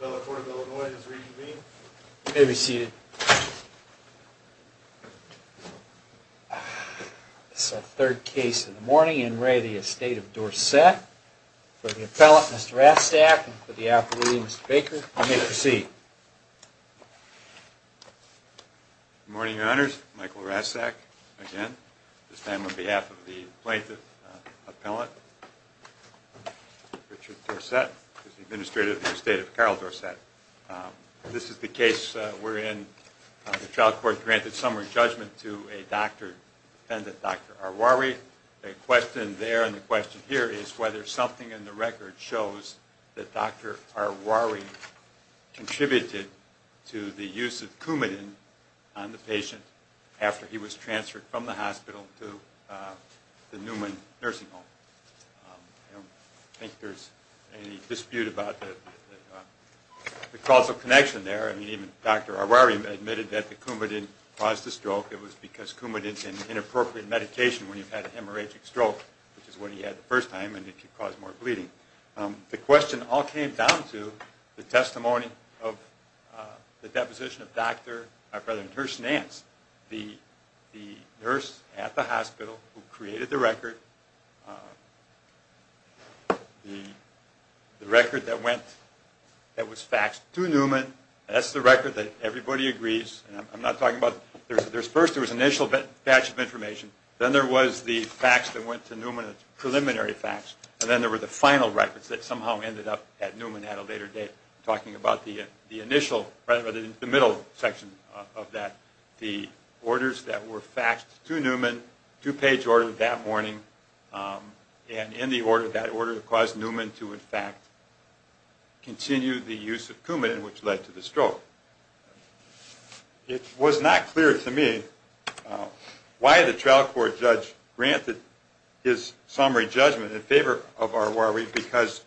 The court of Illinois has re-convened. You may be seated. This is our third case in the morning. In re of the estate of Dorsett. For the appellant, Mr. Rastak, and for the appellate, Mr. Baker, I may proceed. Good morning, your honors. Michael Rastak, again. This time on behalf of the plaintiff and the appellant, Richard Dorsett. Administrator of the estate of Carol Dorsett. This is the case wherein the trial court granted summary judgment to a doctor, defendant Dr. Arwari. The question there and the question here is whether something in the record shows that Dr. Arwari contributed to the use of Coumadin on the patient after he was transferred from the hospital to the Newman nursing home. I don't think there's any dispute about the causal connection there. I mean, even Dr. Arwari admitted that the Coumadin caused the stroke. It was because Coumadin is an inappropriate medication when you've had a hemorrhagic stroke, which is what he had the first time and it could cause more bleeding. The question all came down to the testimony of the deposition of Dr. Nurse Nance, the nurse at the hospital who created the record. The record that went, that was faxed to Newman. That's the record that everybody agrees. I'm not talking about, first there was an initial batch of information, then there was the fax that went to Newman, the preliminary fax, and then there were the final records that somehow ended up at Newman at a later date. I'm talking about the initial, the middle section of that. The orders that were faxed to Newman, two-page order that morning, and in the order, that order caused Newman to in fact continue the use of Coumadin, which led to the stroke. It was not clear to me why the trial court judge granted his summary judgment in favor of Arwari because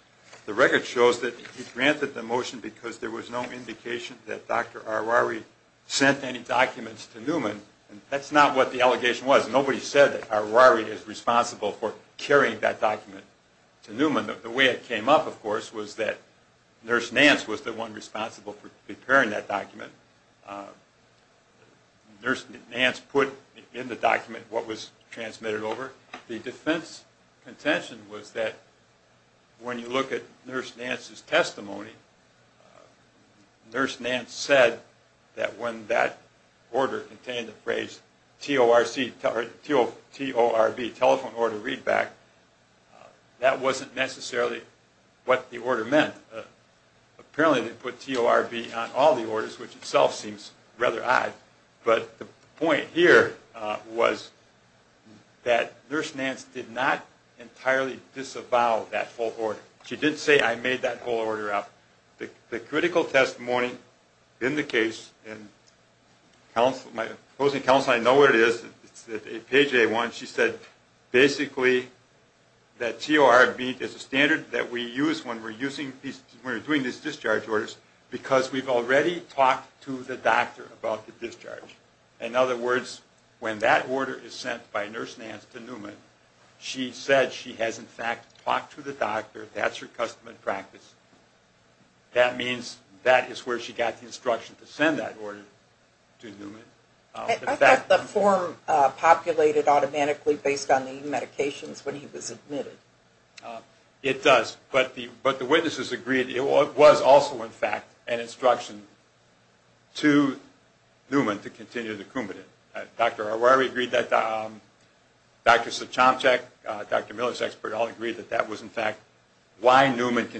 the record shows that he granted the motion because there was no indication that Dr. Arwari sent any documents to Newman. That's not what the allegation was. Nobody said that Arwari is responsible for carrying that document to Newman. The way it came up, of course, was that Nurse Nance was the one responsible for preparing that document. Nurse Nance put in the document what was transmitted over. The defense contention was that when you look at Nurse Nance's testimony, Nurse Nance said that when that order contained the phrase TORV, telephone order readback, that wasn't necessarily what the order meant. Apparently they put TORV on all the orders, which itself seems rather odd. But the point here was that Nurse Nance did not entirely disavow that full order. She didn't say I made that whole order up. The critical testimony in the case, and my opposing counsel, I know what it is. It's page A1. She said basically that TORV is a standard that we use when we're doing these discharge orders because we've already talked to the doctor about the discharge. In other words, when that order is sent by Nurse Nance to Newman, she said she has in fact talked to the doctor. That's her reason for sending that order to Newman. I thought the form populated automatically based on the medications when he was admitted. It does, but the witnesses agreed. It was also in fact an instruction to Newman to continue the Coumadin. Dr. Arwari agreed that, Dr. Sochomchak, Dr. Miller's expert all agreed that that was in fact why I sent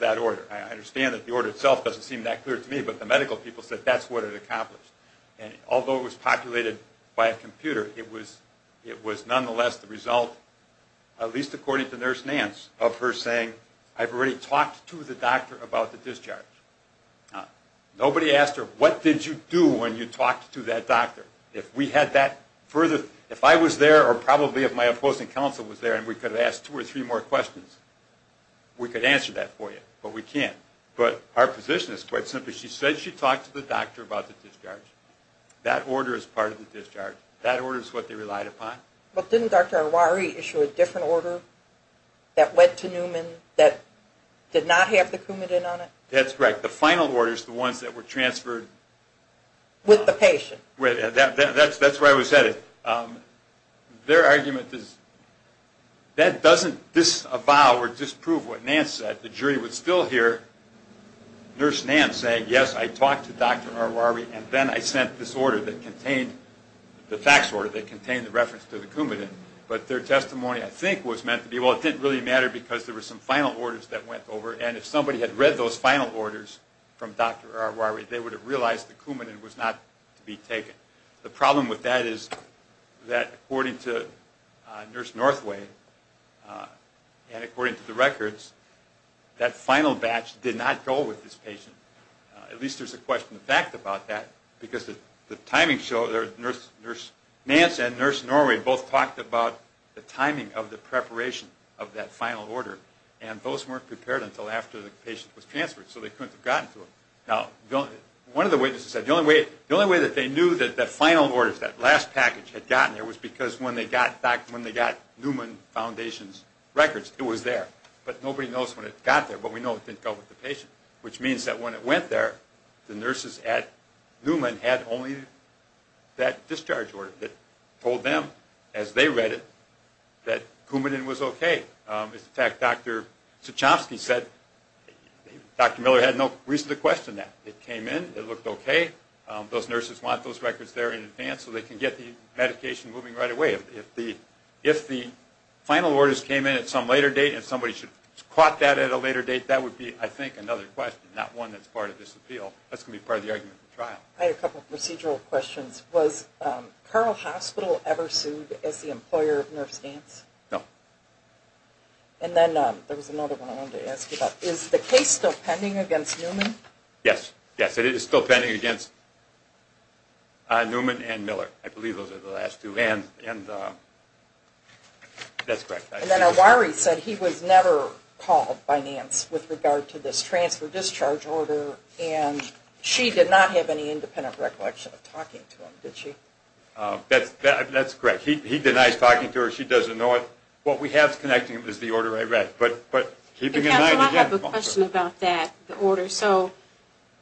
that order. I understand that the order itself doesn't seem that clear to me, but the medical people said that's what it accomplished. Although it was populated by a computer, it was nonetheless the result, at least according to Nurse Nance, of her saying I've already talked to the doctor about the discharge. Nobody asked her what did you do when you talked to that doctor? If we had that further, if I was there or probably if my opposing counsel was there and we could have asked two or three more questions, we could answer that for you, but we can't. But our position is quite simple. She said she talked to the doctor about the discharge. That order is part of the discharge. That order is what they relied upon. But didn't Dr. Arwari issue a different order that went to Newman that did not have the Coumadin on it? That's correct. The final order is the ones that were transferred... That doesn't disavow or disprove what Nance said. The jury would still hear Nurse Nance say, yes, I talked to Dr. Arwari and then I sent this order that contained the fax order that contained the reference to the Coumadin, but their testimony I think was meant to be, well, it didn't really matter because there were some final orders that went over and if somebody had read those final orders from Dr. Arwari, they would have realized the Coumadin was not to be taken. The problem with that is that according to Nurse Northway and according to the records, that final batch did not go with this patient. At least there's a question of fact about that because the timing show that Nurse Nance and Nurse Norway both talked about the timing of the preparation of that final order and both weren't prepared until after the patient was transferred, so they couldn't have gotten to it. Now, one of the witnesses said the only way that they knew that that final order, that last package had gotten there was because when they got Newman Foundation's records, it was there. But nobody knows when it got there, but we know it didn't go with the patient, which means that when it went there, the nurses at Newman had only that discharge order that told them, as they read it, that Coumadin was okay. In fact, Dr. Suchomsky said Dr. Miller had no reason to question that. It came in, it looked okay, those nurses want those records there in advance so they can get the medication moving right away. If the final orders came in at some later date and somebody should have caught that at a later date, that would be, I think, another question, not one that's part of this appeal. That's going to be part of the argument of the trial. I had a couple procedural questions. Was Carl Hospital ever sued as the employer of Nurse Nance? No. And then there was another one I wanted to ask you about. Is the case still pending against Newman? Yes, it is still pending against Newman and Miller. I believe those are the last two. And then Awari said he was never called by Nance with regard to this transfer-discharge order and she did not have any independent recollection of talking to him, did she? That's correct. He denies talking to her, she doesn't know it. I have a question about that.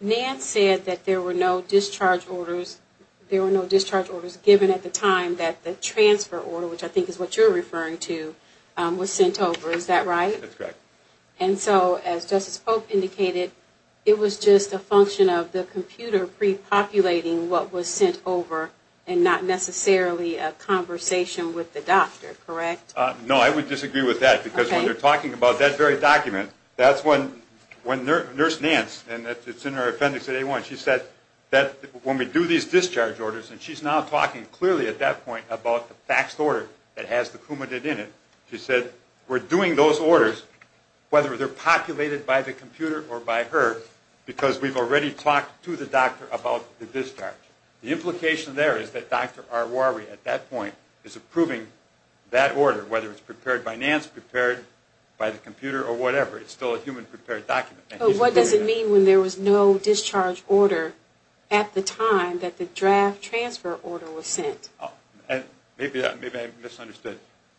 Nance said there were no discharge orders given at the time that the transfer order, which I think is what you're referring to, was sent over, is that right? That's correct. And so as Justice Polk indicated, it was just a function of the computer pre-populating what was sent over and not necessarily a conversation with the doctor, correct? No, I would disagree with that because when they're talking about that very document, that's when Nurse Nance, and it's in her appendix at A1, she said that when we do these discharge orders, and she's now talking clearly at that point about the faxed order that has the coumadin in it, she said we're doing those orders, whether they're populated by the computer or by her, because we've already talked to the doctor about the discharge. The implication there is that Dr. Awari at that point is approving that order, whether it's prepared by Nance, prepared by the computer, or whatever. It's still a human-prepared document. What does it mean when there was no discharge order at the time that the draft transfer order was sent? Maybe I misunderstood.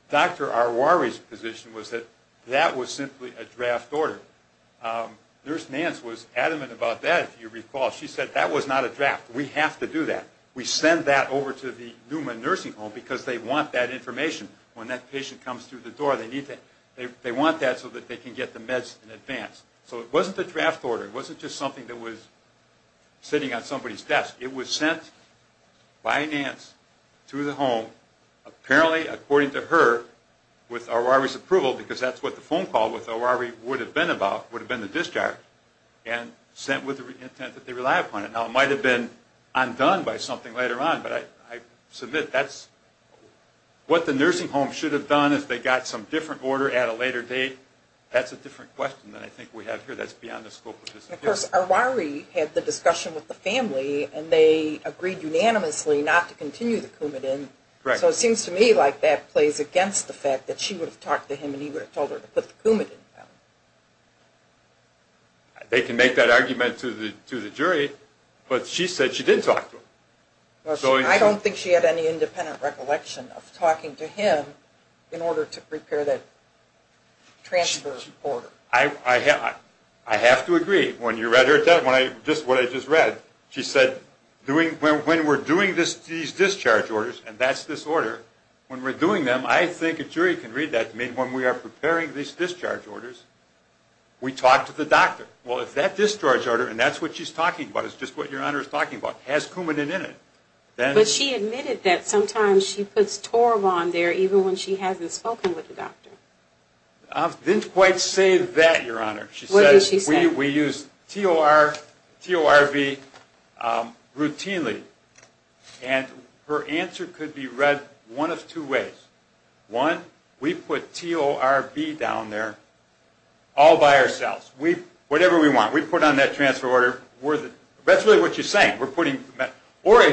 Dr. Awari's position was that that was simply a draft order. Nurse Nance was adamant about that, if you recall. She said that was not a draft. We have to do that. We send that over to the Newman Nursing Home because they want that information. When that patient comes through the door, they want that so that they can get the meds in advance. So it wasn't a draft order. It wasn't just something that was sitting on somebody's desk. It was sent by Nance to the home, apparently according to her, with Awari's approval, because that's what the phone call with Awari would have been about, would have been the discharge, and sent with the intent that they rely upon it. Now it might have been undone by something later on, but I submit that's what the nursing home should have done if they got some different order at a later date. That's a different question than I think we have here. That's beyond the scope of this interview. Of course, Awari had the discussion with the family, and they agreed unanimously not to continue the Coumadin. So it seems to me like that plays against the fact that she would have talked to him in order to prepare that transfer order. I have to agree. Just what I just read, she said, when we're doing these discharge orders, and that's this order, when we're doing them, I think a jury can read that to me, when we are preparing these discharge orders, we talk to the doctor. Well, if that discharge order, and that's what she's talking about, it's just what Your Honor is talking about, has Coumadin in it. But she admitted that sometimes she puts TORV on there even when she hasn't spoken with the doctor. I didn't quite say that, Your Honor. We use TORV routinely, and her answer could be read one of two ways. One, we put TORV down there all by ourselves. Whatever we want, we put on that transfer order. Or it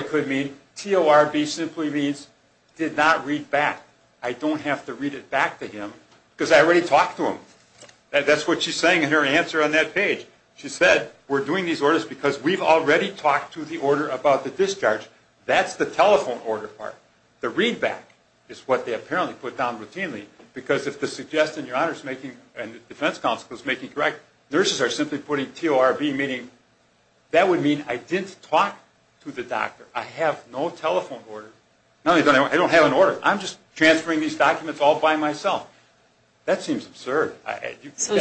could mean TORV simply means did not read back. I don't have to read it back to him because I already talked to him. That's what she's saying in her answer on that page. She said we're doing these orders because we've already talked to the order about the discharge. That's the telephone order part. The read back is what they apparently put down routinely because if the suggestion Your Honor is making and the defense counsel is making correct, nurses are simply putting TORV meaning that would mean I didn't talk to the doctor. I have no telephone order. I don't have an order. I'm just transferring these documents all by myself. That seems absurd. So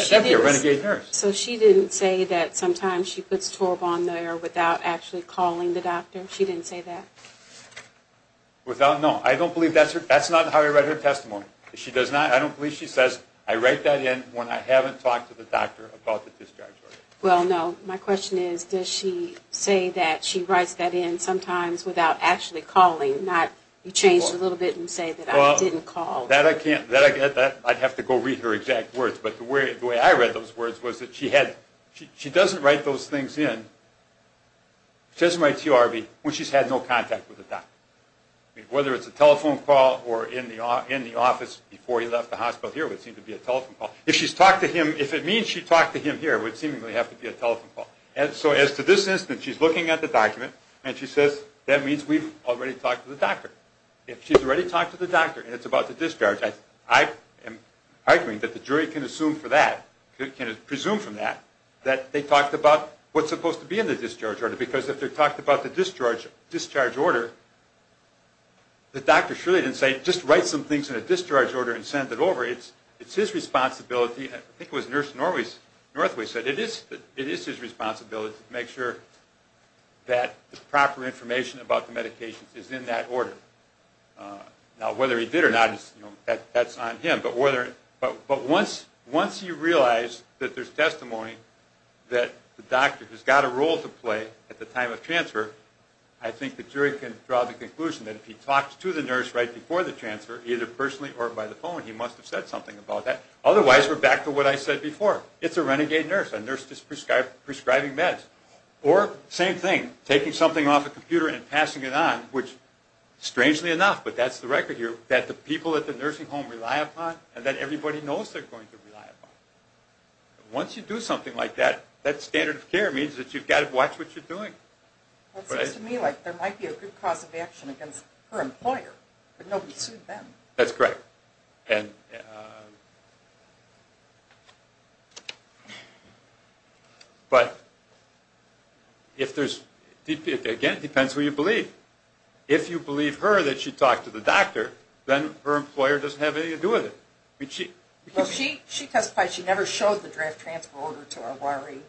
she didn't say that sometimes she puts TORV on there without actually calling the doctor? She didn't say that? No, I don't believe that's how I read her testimony. I don't believe she says I write that in when I haven't talked to the doctor about the discharge order. My question is does she say that she writes that in sometimes without actually calling? You changed it a little bit and say that I didn't call. I'd have to go read her exact words. But the way I read those words was that she doesn't write those things in. She doesn't write TORV when she's had no contact with the doctor. Whether it's a telephone call or in the office before he left the hospital here would seem to be a telephone call. If it means she talked to him here, it would seemingly have to be a telephone call. So as to this instance, she's looking at the document and she says that means we've already talked to the doctor. If she's already talked to the doctor and it's about the discharge, I am arguing that the jury can assume from that that they talked about what's supposed to be in the discharge order. Because if they're talking about the discharge order, the doctor surely didn't say just write some things in a discharge order and send it over. It's his responsibility. I think it was Nurse Northway who said it is his responsibility to make sure that the proper information about the medications is in that order. Now whether he did or not, that's on him. But once you realize that there's testimony that the doctor has got a role to play at the time of transfer, I think the jury can draw the conclusion that if he talked to the nurse right before the transfer, either personally or by the phone, he must have said something about that. Otherwise, we're back to what I said before. It's a renegade nurse, a nurse just prescribing meds. Or same thing, taking something off a computer and passing it on, which strangely enough, but that's the record here, that the people at the nursing home rely upon and that everybody knows they're going to rely upon. Once you do something like that, that standard of care means that you've got to watch what you're doing. It seems to me like there might be a good cause of action against her employer, but nobody sued them. That's correct. But if there's... Again, it depends who you believe. If you believe her that she talked to the doctor, then her employer doesn't have anything to do with it. She testified she never showed the draft transfer order to her worry.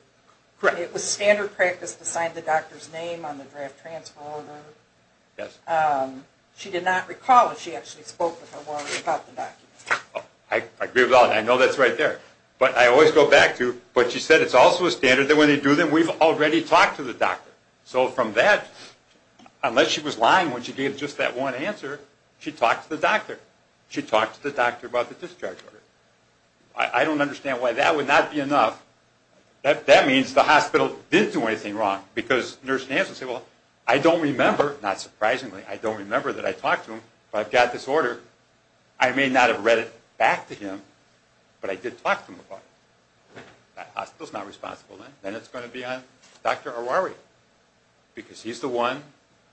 It was standard practice to sign the doctor's name on the draft transfer order. She did not recall if she actually spoke with her worry about the document. I agree with that. I know that's right there. But I always go back to what she said. It's also a standard that when they do that, we've already talked to the doctor. So from that, unless she was lying when she gave just that one answer, she talked to the doctor. She talked to the doctor about the discharge order. I don't understand why that would not be enough. That means the hospital didn't do anything wrong, because nurses would say, well, I don't remember, not surprisingly, I don't remember that I talked to him, but I've got this order. I may not have read it back to him, but I did talk to him about it. That hospital's not responsible then. Then it's going to be on Dr. Arwari, because he's the one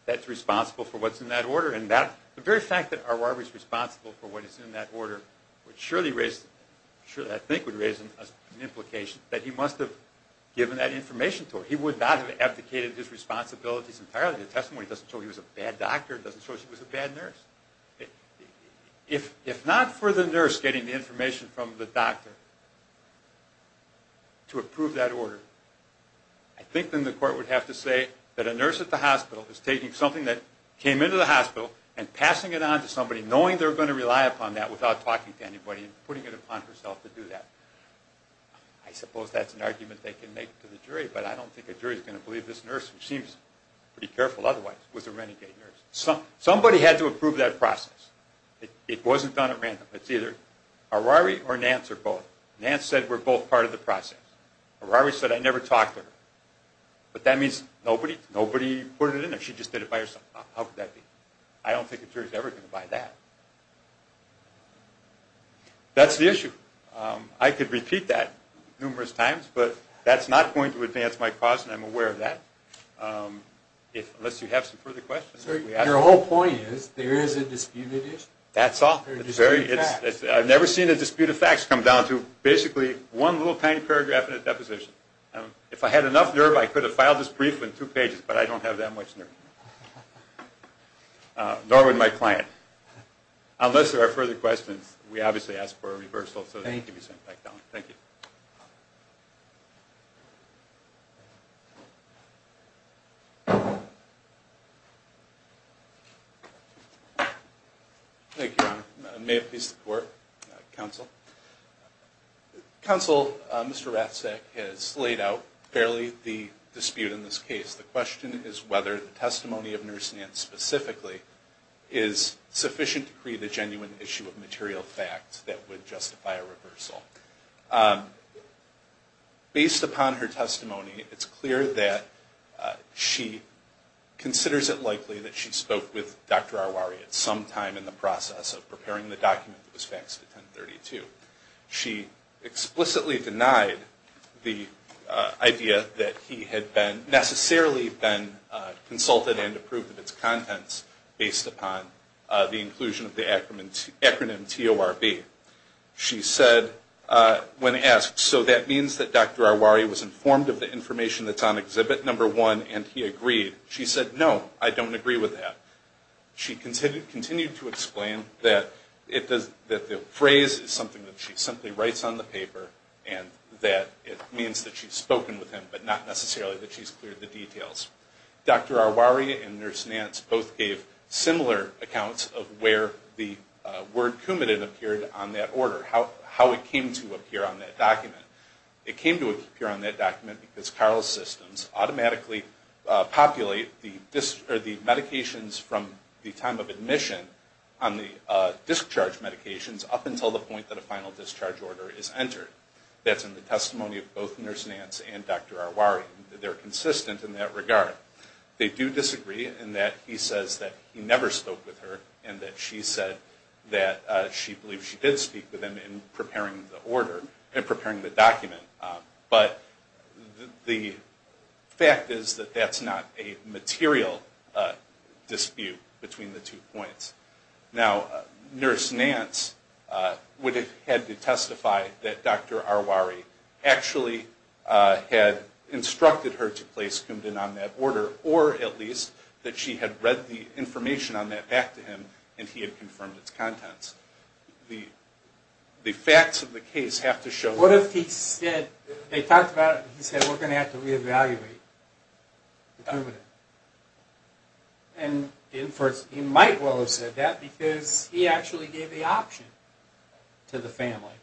that's responsible for what's in that order. The very fact that Arwari's responsible for what's in that order would surely raise an implication that he would not have abdicated his responsibilities entirely. The testimony doesn't show he was a bad doctor. It doesn't show she was a bad nurse. If not for the nurse getting the information from the doctor to approve that order, I think then the court would have to say that a nurse at the hospital is taking something that came into the hospital and passing it on to somebody, knowing they're going to rely upon that without talking to anybody, and putting it upon herself to do that. I suppose that's an argument they can make to the jury, but I don't think a jury's going to believe this nurse, who seems pretty careful otherwise, was a renegade nurse. Somebody had to approve that process. It wasn't done at random. It's either Arwari or Nance or both. Nance said, we're both part of the process. Arwari said, I never talked to her. But that means nobody put it in there. She just did it by herself. How could that be? I don't think a jury's ever going to buy that. That's the issue. I could repeat that numerous times, but that's not going to advance my cause, and I'm aware of that. Unless you have some further questions. Your whole point is, there is a disputed issue? That's all. I've never seen a dispute of facts come down to basically one little tiny paragraph in a deposition. If I had enough nerve, I could have filed this brief in two pages, but I don't have that much nerve. Nor would my client. Unless there are further questions, we obviously ask for a reversal. Thank you. Thank you, Your Honor. May it please the Court, Counsel. Counsel, Mr. Ratzak has laid out fairly the dispute in this case. The question is whether the testimony of Nurse Nance specifically is sufficient to create a genuine issue of material facts that would justify a reversal. Based upon her testimony, it's clear that she considers it likely that she spoke with Dr. Arwari at some time in the process of preparing the document that was faxed at 1032. She explicitly denied the idea that he had necessarily been consulted and approved of its contents based upon the inclusion of the acronym TORB. She said, when asked, so that means that Dr. Arwari was informed of the information that's on Exhibit 1 and he agreed. She said, no, I don't agree with that. She continued to explain that the phrase is something that she simply writes on the paper and that it means that she's spoken with him, but not necessarily that she's cleared the details. Dr. Arwari and Nurse Nance both gave similar accounts of where the word coumadin appeared on that order, how it came to appear on that document. It came to appear on that document because Carl's systems automatically populate the medications from the time of admission on the discharge medications up until the point that a final discharge order is entered. That's in the testimony of both Nurse Nance and Dr. Arwari. They're consistent in that regard. They do disagree in that he says that he never spoke with her and that she said that she believes she did speak with him in preparing the order, in preparing the document. But the fact is that that's not a material dispute between the two points. Now, Nurse Nance would have had to testify that Dr. Arwari actually had instructed her to place coumadin on that order or at least that she had read the information on that back to him and he had confirmed its contents. The facts of the case have to show... What if he said, they talked about it and he said we're going to have to re-evaluate the coumadin? He might well have said that because he actually gave the option to the family.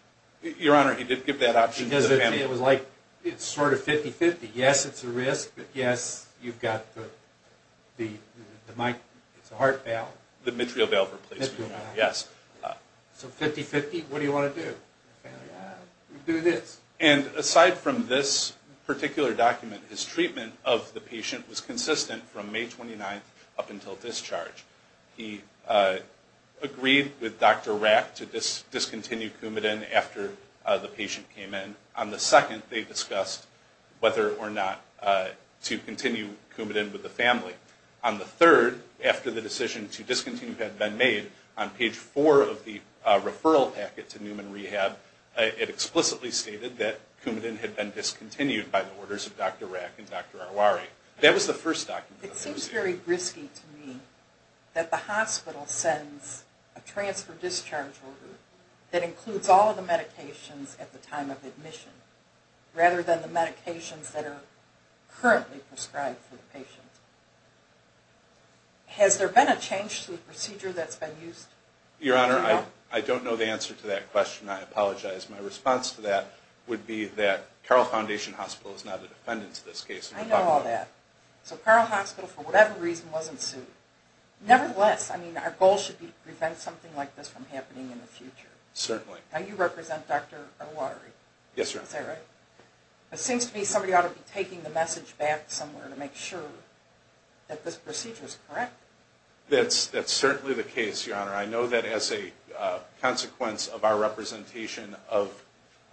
Your Honor, he did give that option to the family. It's sort of 50-50. Yes, it's a risk, but yes, you've got the heart valve. The mitral valve replacement valve, yes. So 50-50, what do you want to do? Do this. Aside from this particular document, his treatment of the patient was consistent from May 29th up until discharge. He agreed with Dr. Rack to discontinue coumadin after the patient came in. On the 2nd, they discussed whether or not to continue coumadin with the family. On the 3rd, after the decision to discontinue had been made, on page 4 of the referral packet to Newman Rehab, it explicitly stated that coumadin had been discontinued by the orders of Dr. Rack and Dr. Arwari. That was the first document. It seems very risky to me that the hospital sends a transfer discharge order that includes all of the medications at the time of admission, rather than the medications that are currently prescribed for the patient. Has there been a change to the procedure that's been used? Your Honor, I don't know the answer to that question. I apologize. My response to that would be that Carroll Foundation Hospital is not a defendant in this case. I know all that. So Carroll Hospital, for whatever reason, wasn't sued. Nevertheless, our goal should be to prevent something like this from happening in the future. Certainly. Now you represent Dr. Arwari. Yes, Your Honor. It seems to me that somebody ought to be taking the message back somewhere to make sure that this procedure is correct. That's certainly the case, Your Honor. I know that as a consequence of our representation of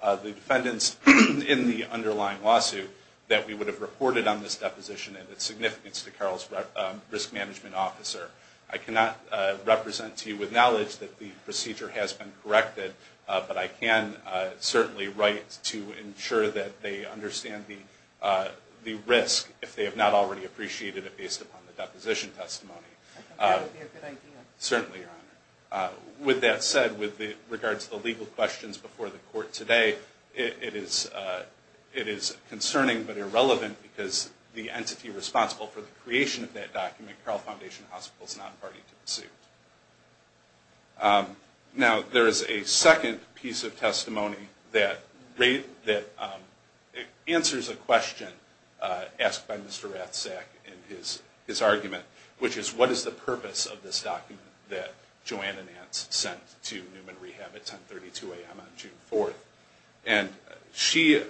the defendants in the underlying lawsuit, that we would have reported on this deposition and its significance to Carroll's risk management officer. I cannot represent to you with knowledge that the procedure has been corrected, but I can certainly write to ensure that they understand the risk if they have not already appreciated it based upon the deposition testimony. I think that would be a good idea. Certainly, Your Honor. With that said, with regards to the legal questions before the Court today, it is concerning, but irrelevant, because the entity responsible for the creation of that document, Carroll Foundation Hospital, is not party to the suit. Now, there is a second piece of testimony that answers a question asked by Mr. Rathsack in his argument, which is, what is the purpose of this document that Joanne and Nance sent to Newman Rehab at 10.32 a.m. on June 4th? And she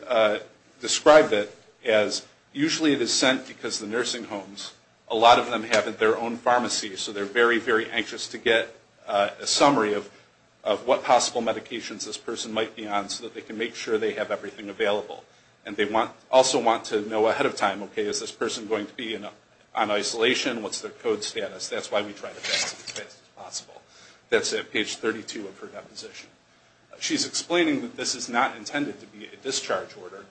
described it as, usually it is sent because the nursing homes, a lot of them have their own pharmacies, so they're very, very anxious to get a summary of what possible medications this person might be on so that they can make sure they have everything available. And they also want to know ahead of time, okay, is this person going to be on isolation? What's their code status? That's why we try to get to this as fast as possible. That's at page 32 of her deposition. She's explaining that this is not intended to be a discharge order,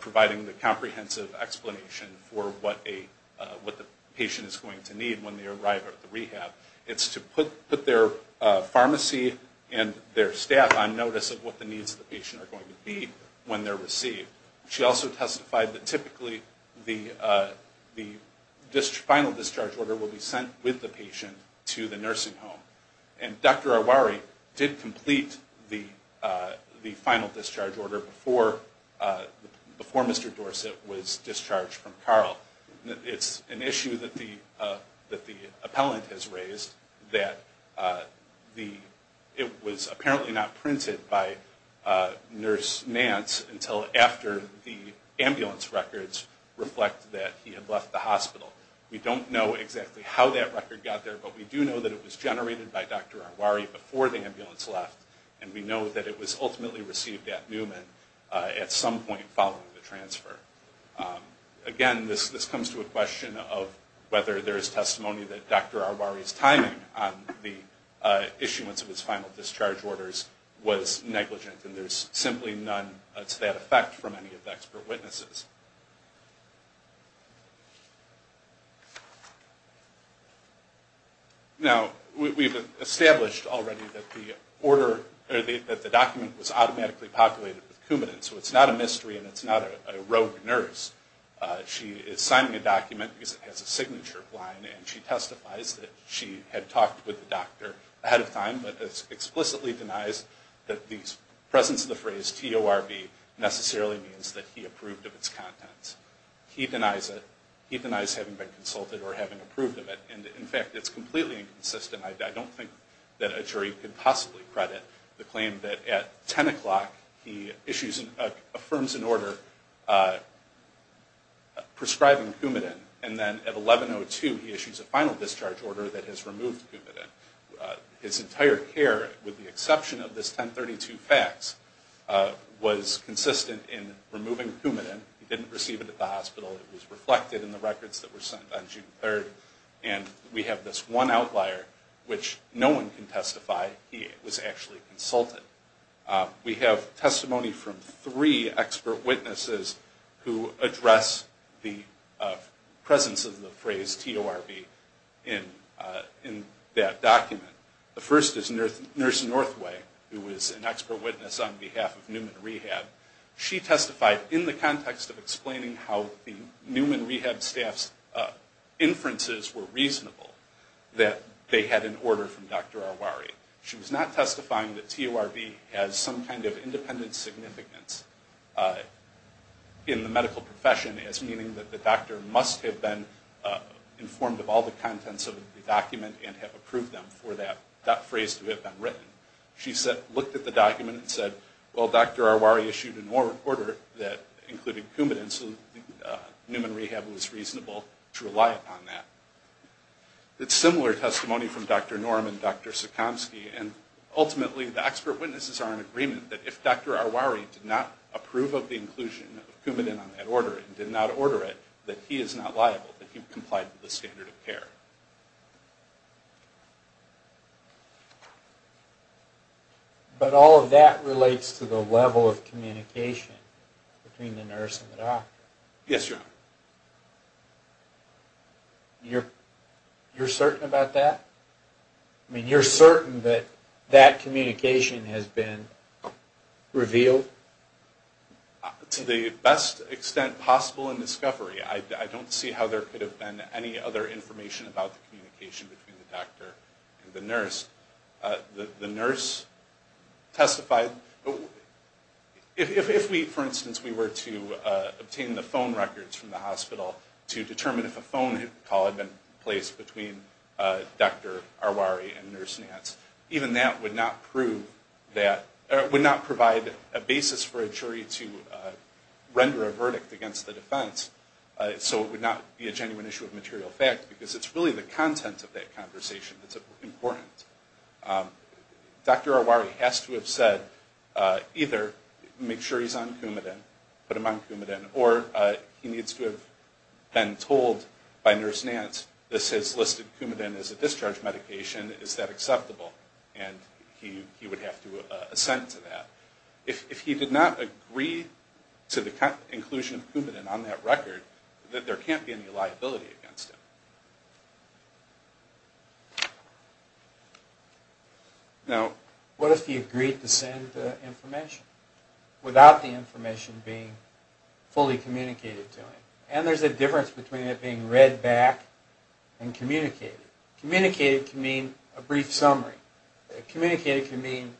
providing the comprehensive explanation for what the patient is going to need when they arrive at the rehab. It's to put their pharmacy and their staff on notice of what the needs of the patient are going to be when they're received. She also testified that typically the final discharge order will be sent with the patient to the nursing home. And Dr. Arwari did complete the final discharge order before Mr. Dorsett was discharged from Carl. It's an issue that the appellant has raised that it was apparently not printed by Nurse Nance until after Dr. Arwari left the hospital. We don't know exactly how that record got there, but we do know that it was generated by Dr. Arwari before the ambulance left. And we know that it was ultimately received at Newman at some point following the transfer. Again, this comes to a question of whether there is testimony that Dr. Arwari's timing on the issuance of his final discharge orders was negligent. And there's simply none to that effect from any of the expert witnesses. Now, we've established already that the document was automatically populated with Coumadin, so it's not a mystery and it's not a rogue nurse. She is signing a document because it has a signature of mine, and she testifies that she had talked with the doctor ahead of time, but explicitly denies that the presence of the phrase TORB necessarily means that he approved of its contents. He denies it. He denies having been consulted or having approved of it. In fact, it's completely inconsistent. I don't think that a jury could possibly credit the claim that at 10 o'clock he affirms an order prescribing Coumadin, and then at 11.02 he issues a final discharge order that has removed Coumadin. His entire care, with the exception of this 10.32 fax, was consistent in removing Coumadin. He didn't receive it at the hospital. It was reflected in the records that were sent on June 3rd. And we have this one outlier, which no one can testify he was actually consulted. We have testimony from three expert witnesses who address the presence of the phrase TORB in that document. The first is Nurse Northway, who is an expert witness on behalf of Newman Rehab. She testified in the context of explaining how the Newman Rehab staff's inferences were reasonable, that they had an order from Dr. Arwari. She was not testifying that TORB has some kind of independent significance in the medical profession as meaning that the doctor must have been informed of all the contents of the document and have approved them for that phrase to have been written. She looked at the document and said, well, Dr. Arwari issued an order including Coumadin, so Newman Rehab was reasonable to rely upon that. It's similar testimony from Dr. Norm and Dr. Sikomsky. And ultimately, the expert witnesses are in agreement that if Dr. Arwari did not approve of the inclusion of Coumadin on that order and did not order it, that he is not liable, that he complied with the standard of care. But all of that relates to the level of communication between the nurse and the doctor. Yes, Your Honor. You're certain about that? You're certain that that communication has been revealed? To the best extent possible in discovery. I don't see how there could have been any other information about the communication between the doctor and the nurse. If, for instance, we were to obtain the phone records from the hospital to determine if a phone call had been placed between Dr. Arwari and Nurse Nance, even that would not provide a basis for a jury to render a verdict against the defense. So it would not be a genuine issue of material fact, because it's really the content of that conversation that's important. Dr. Arwari has to have said either make sure he's on Coumadin, put him on Coumadin, or he needs to have been told by Nurse Nance, this has listed Coumadin as a discharge medication, is that acceptable? And he would have to assent to that. If he did not agree to the inclusion of Coumadin on that record, then there can't be any liability against him. Now, what if he agreed to send the information without the information being fully communicated to him? And there's a difference between it being read back and communicated. Communicated can mean a brief summary. Communicated can mean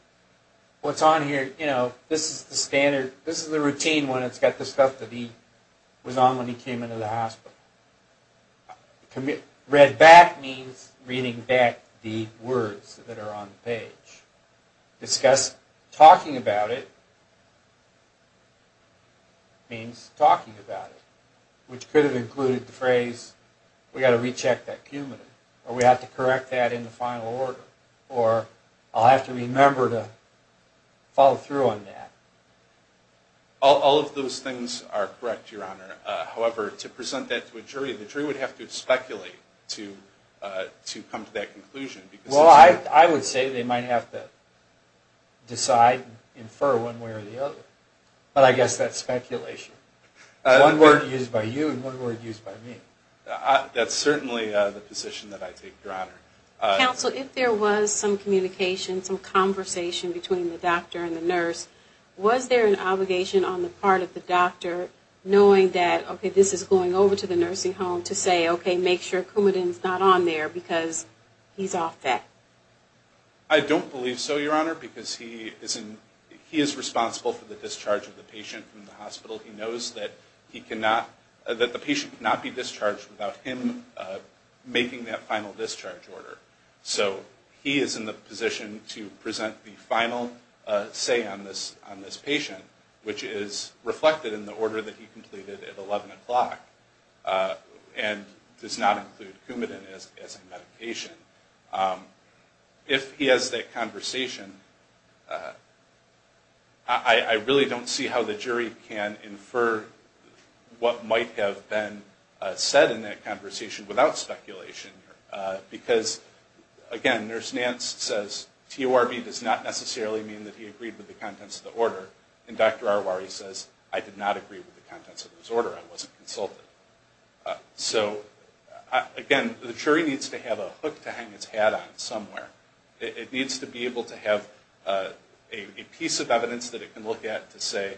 what's on here, you know, this is the standard, this is the routine when it's got the stuff that he was on when he came into the hospital. Read back means reading back the words that are on the page. Discuss, talking about it means talking about it, which could have included the phrase, we've got to recheck that Coumadin, or we have to correct that in the final order, or I'll have to remember to follow through on that. I would say they might have to decide, infer one way or the other, but I guess that's speculation. One word used by you and one word used by me. That's certainly the position that I take, Your Honor. Counsel, if there was some communication, some conversation between the doctor and the nurse, was there an obligation on the part of the doctor knowing that, okay, this is going over to the nursing home to say, okay, make sure Coumadin's not on there because he's off that? I don't believe so, Your Honor, because he is responsible for the discharge of the patient from the hospital. He knows that the patient cannot be discharged without him making that final discharge order. So he is in the position to present the final say on this patient, which is reflected in the order that he completed at 11 o'clock and does not include Coumadin as a medication. If he has that conversation, I really don't see how the jury can infer what might have been said in that conversation without speculation, because, again, Nurse Nance says TORB does not necessarily mean that he agreed with the contents of the order, and Dr. Arwari says I did not agree with the contents of his order, I wasn't consulted. So, again, the jury needs to have a hook to hang its hat on somewhere. It needs to be able to have a piece of evidence that it can look at to say,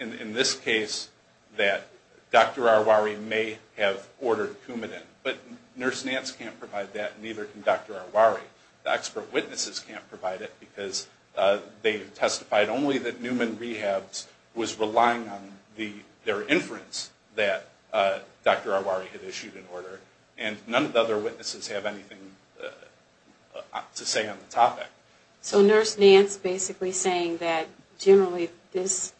in this case, that Dr. Arwari may have ordered Coumadin. But Nurse Nance can't provide that, neither can Dr. Arwari. The expert witnesses can't provide it, because they testified only that Newman Rehabs was relying on their inference that Dr. Arwari had issued an order, and none of the other witnesses have anything to say on the topic. So Nurse Nance basically saying that, generally, this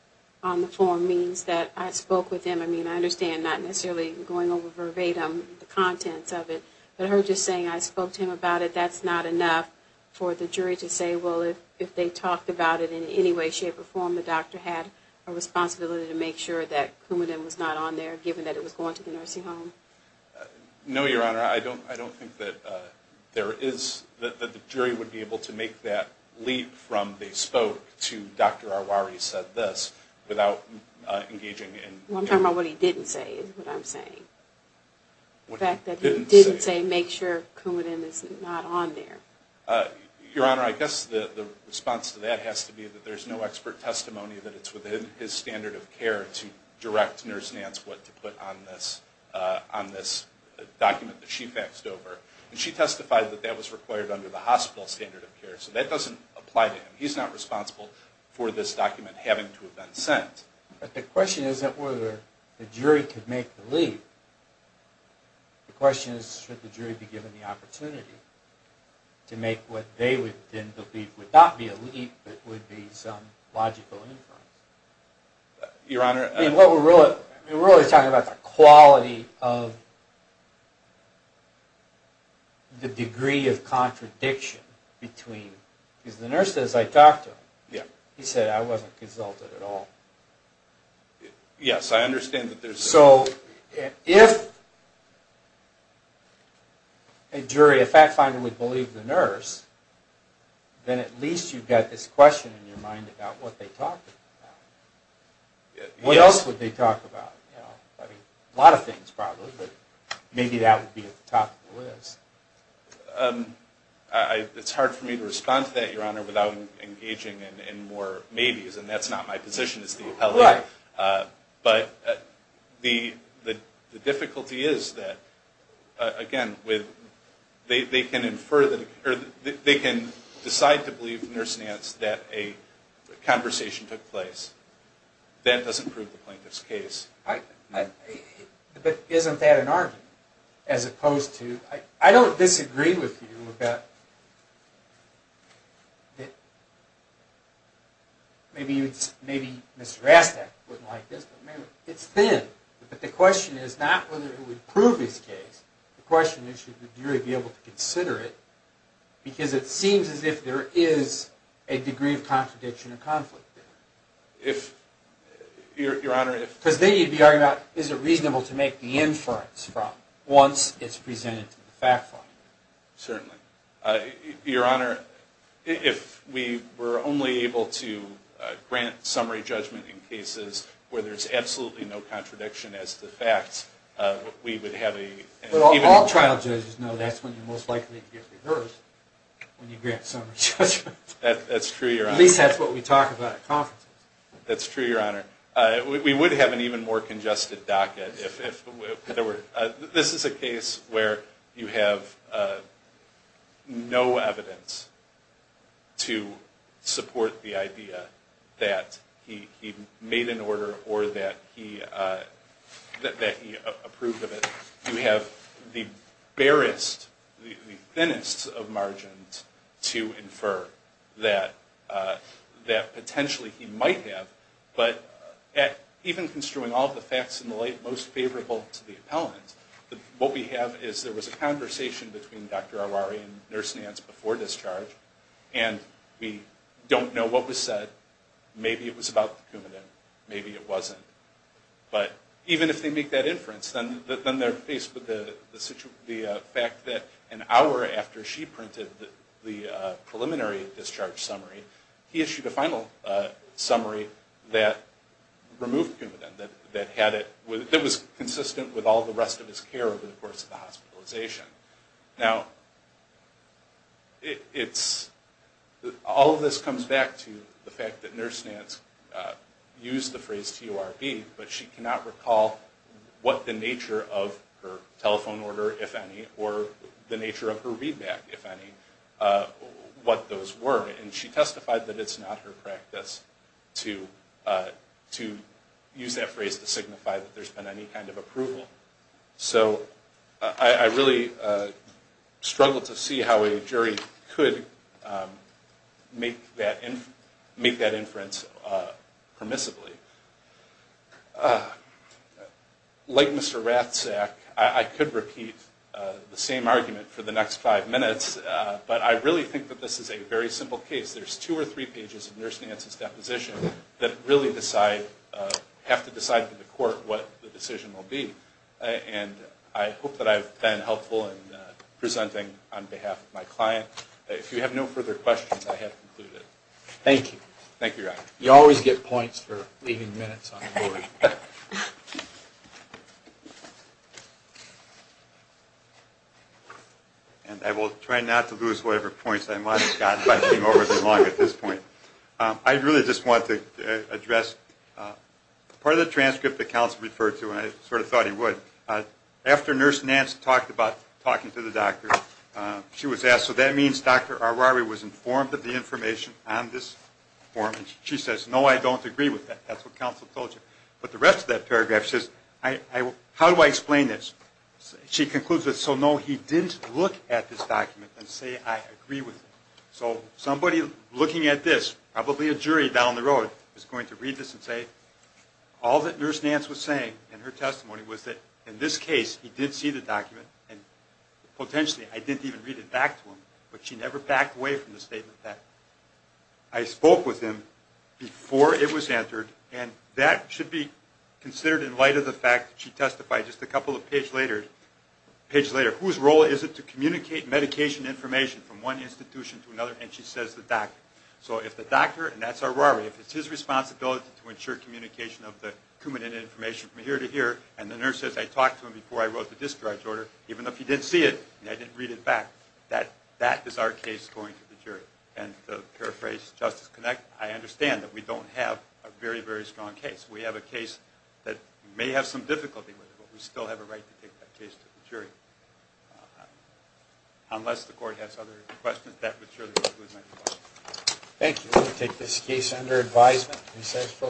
on the form means that I spoke with him. I mean, I understand not necessarily going over verbatim the contents of it, but her just saying I spoke to him about it, that's not enough for the jury to say, well, if they talked about it in any way, shape, or form, the doctor had a responsibility to make sure that Coumadin was not on there, given that it was going to the nursing home. No, Your Honor, I don't think that the jury would be able to make that leap from they spoke to Dr. Arwari said this, without engaging in Well, I'm talking about what he didn't say, is what I'm saying. The fact that he didn't say make sure Coumadin is not on there. Your Honor, I guess the response to that has to be that there's no expert testimony that it's within his standard of care to direct Nurse Nance what to put on this document that she faxed over. And she testified that that was required under the hospital standard of care. So that doesn't apply to him. He's not responsible for this document having to have been sent. But the question isn't whether the jury could make the leap. The question is should the jury be given the opportunity to make what they would then believe would not be a leap, but would be some logical inference. Your Honor, We're really talking about the quality of the degree of contradiction between, because the nurse says I talked to him. He said I wasn't consulted at all. Yes, I understand that there's So, if a jury, a fact finder would believe the nurse, then at least you've got this question in your mind about what they talked about. What else would they talk about? A lot of things probably, but maybe that would be at the top of the list. It's hard for me to respond to that, Your Honor, without engaging in more maybes. And that's not my position as the appellate. But the difficulty is that again, they can decide to believe nurse Nance that a conversation took place. That doesn't prove the plaintiff's case. But isn't that an argument? I don't disagree with you about maybe Mr. Rastak wouldn't like this, It's thin, but the question is not whether he would prove his case. The question is should the jury be able to consider it, because it seems as if there is a degree of contradiction or conflict there. Because then you'd be arguing about is it reasonable to make the inference from once it's presented to the fact finder. Certainly. Your Honor, if we were only able to grant summary judgment in cases where there's absolutely no contradiction as to facts, we would have a... All trial judges know that's when you most likely get reversed when you grant summary judgment. At least that's what we talk about at conferences. That's true, Your Honor. We would have an even more congested docket. This is a case where you have no evidence to support the idea that he made an order or that he approved of it. You have the barest, the thinnest of margins to infer that potentially he might have, but even construing all the facts in the light most favorable to the appellant, what we have is there was a conversation between Dr. Arwari and Nurse Nance before discharge, and we don't know what was said. Maybe it was about the Coumadin. Maybe it wasn't. Even if they make that inference, then they're faced with the fact that an hour after she printed the preliminary discharge summary, he issued a final summary that removed Coumadin, that was consistent with all the rest of his care over the course of the hospitalization. Now, all of this comes back to the fact that Nurse Nance used the phrase TURB, but she cannot recall what the nature of her telephone order, if any, or the nature of her readback, if any, what those were. And she testified that it's not her practice to use that phrase to signify that there's been any kind of approval. So I really struggle to see how a jury could make that inference permissibly. Like Mr. Ratzak, I could repeat the same argument for the next five minutes, but I really think that this is a very simple case. There's two or three pages of Nurse Nance's deposition that really have to decide for the court what the decision will be. And I hope that I've been helpful in presenting on behalf of my client. If you have no further questions, I have concluded. Thank you. You always get points for leaving minutes on the board. And I will try not to lose whatever points I might have gotten by getting over them long at this point. I really just want to address part of the transcript that counsel referred to, and I was asked, so that means Dr. Arwari was informed of the information on this form, and she says, no, I don't agree with that. That's what counsel told you. But the rest of that paragraph says, how do I explain this? She concludes with, so no, he didn't look at this document and say, I agree with it. So somebody looking at this, probably a jury down the road, is going to read this and say, all that Nurse Nance was saying in her testimony was that in this case, he did see the document, and potentially, I didn't even read it back to him. But she never backed away from the statement that I spoke with him before it was entered, and that should be considered in light of the fact that she testified just a couple of pages later, whose role is it to communicate medication information from one institution to another, and she says the doctor. So if the doctor, and that's Arwari, if it's his responsibility to ensure communication of the cumulative information from here to here, and the nurse says, I talked to him before I wrote the discharge order, even if he didn't see it, and I didn't read it back, that is our case going to the jury. And to paraphrase Justice Connick, I understand that we don't have a very, very strong case. We have a case that may have some difficulty with it, but we still have a right to take that case to the jury. Unless the court has other questions, that would surely be good. Thank you. We will take this case under advisement and recess for lunch.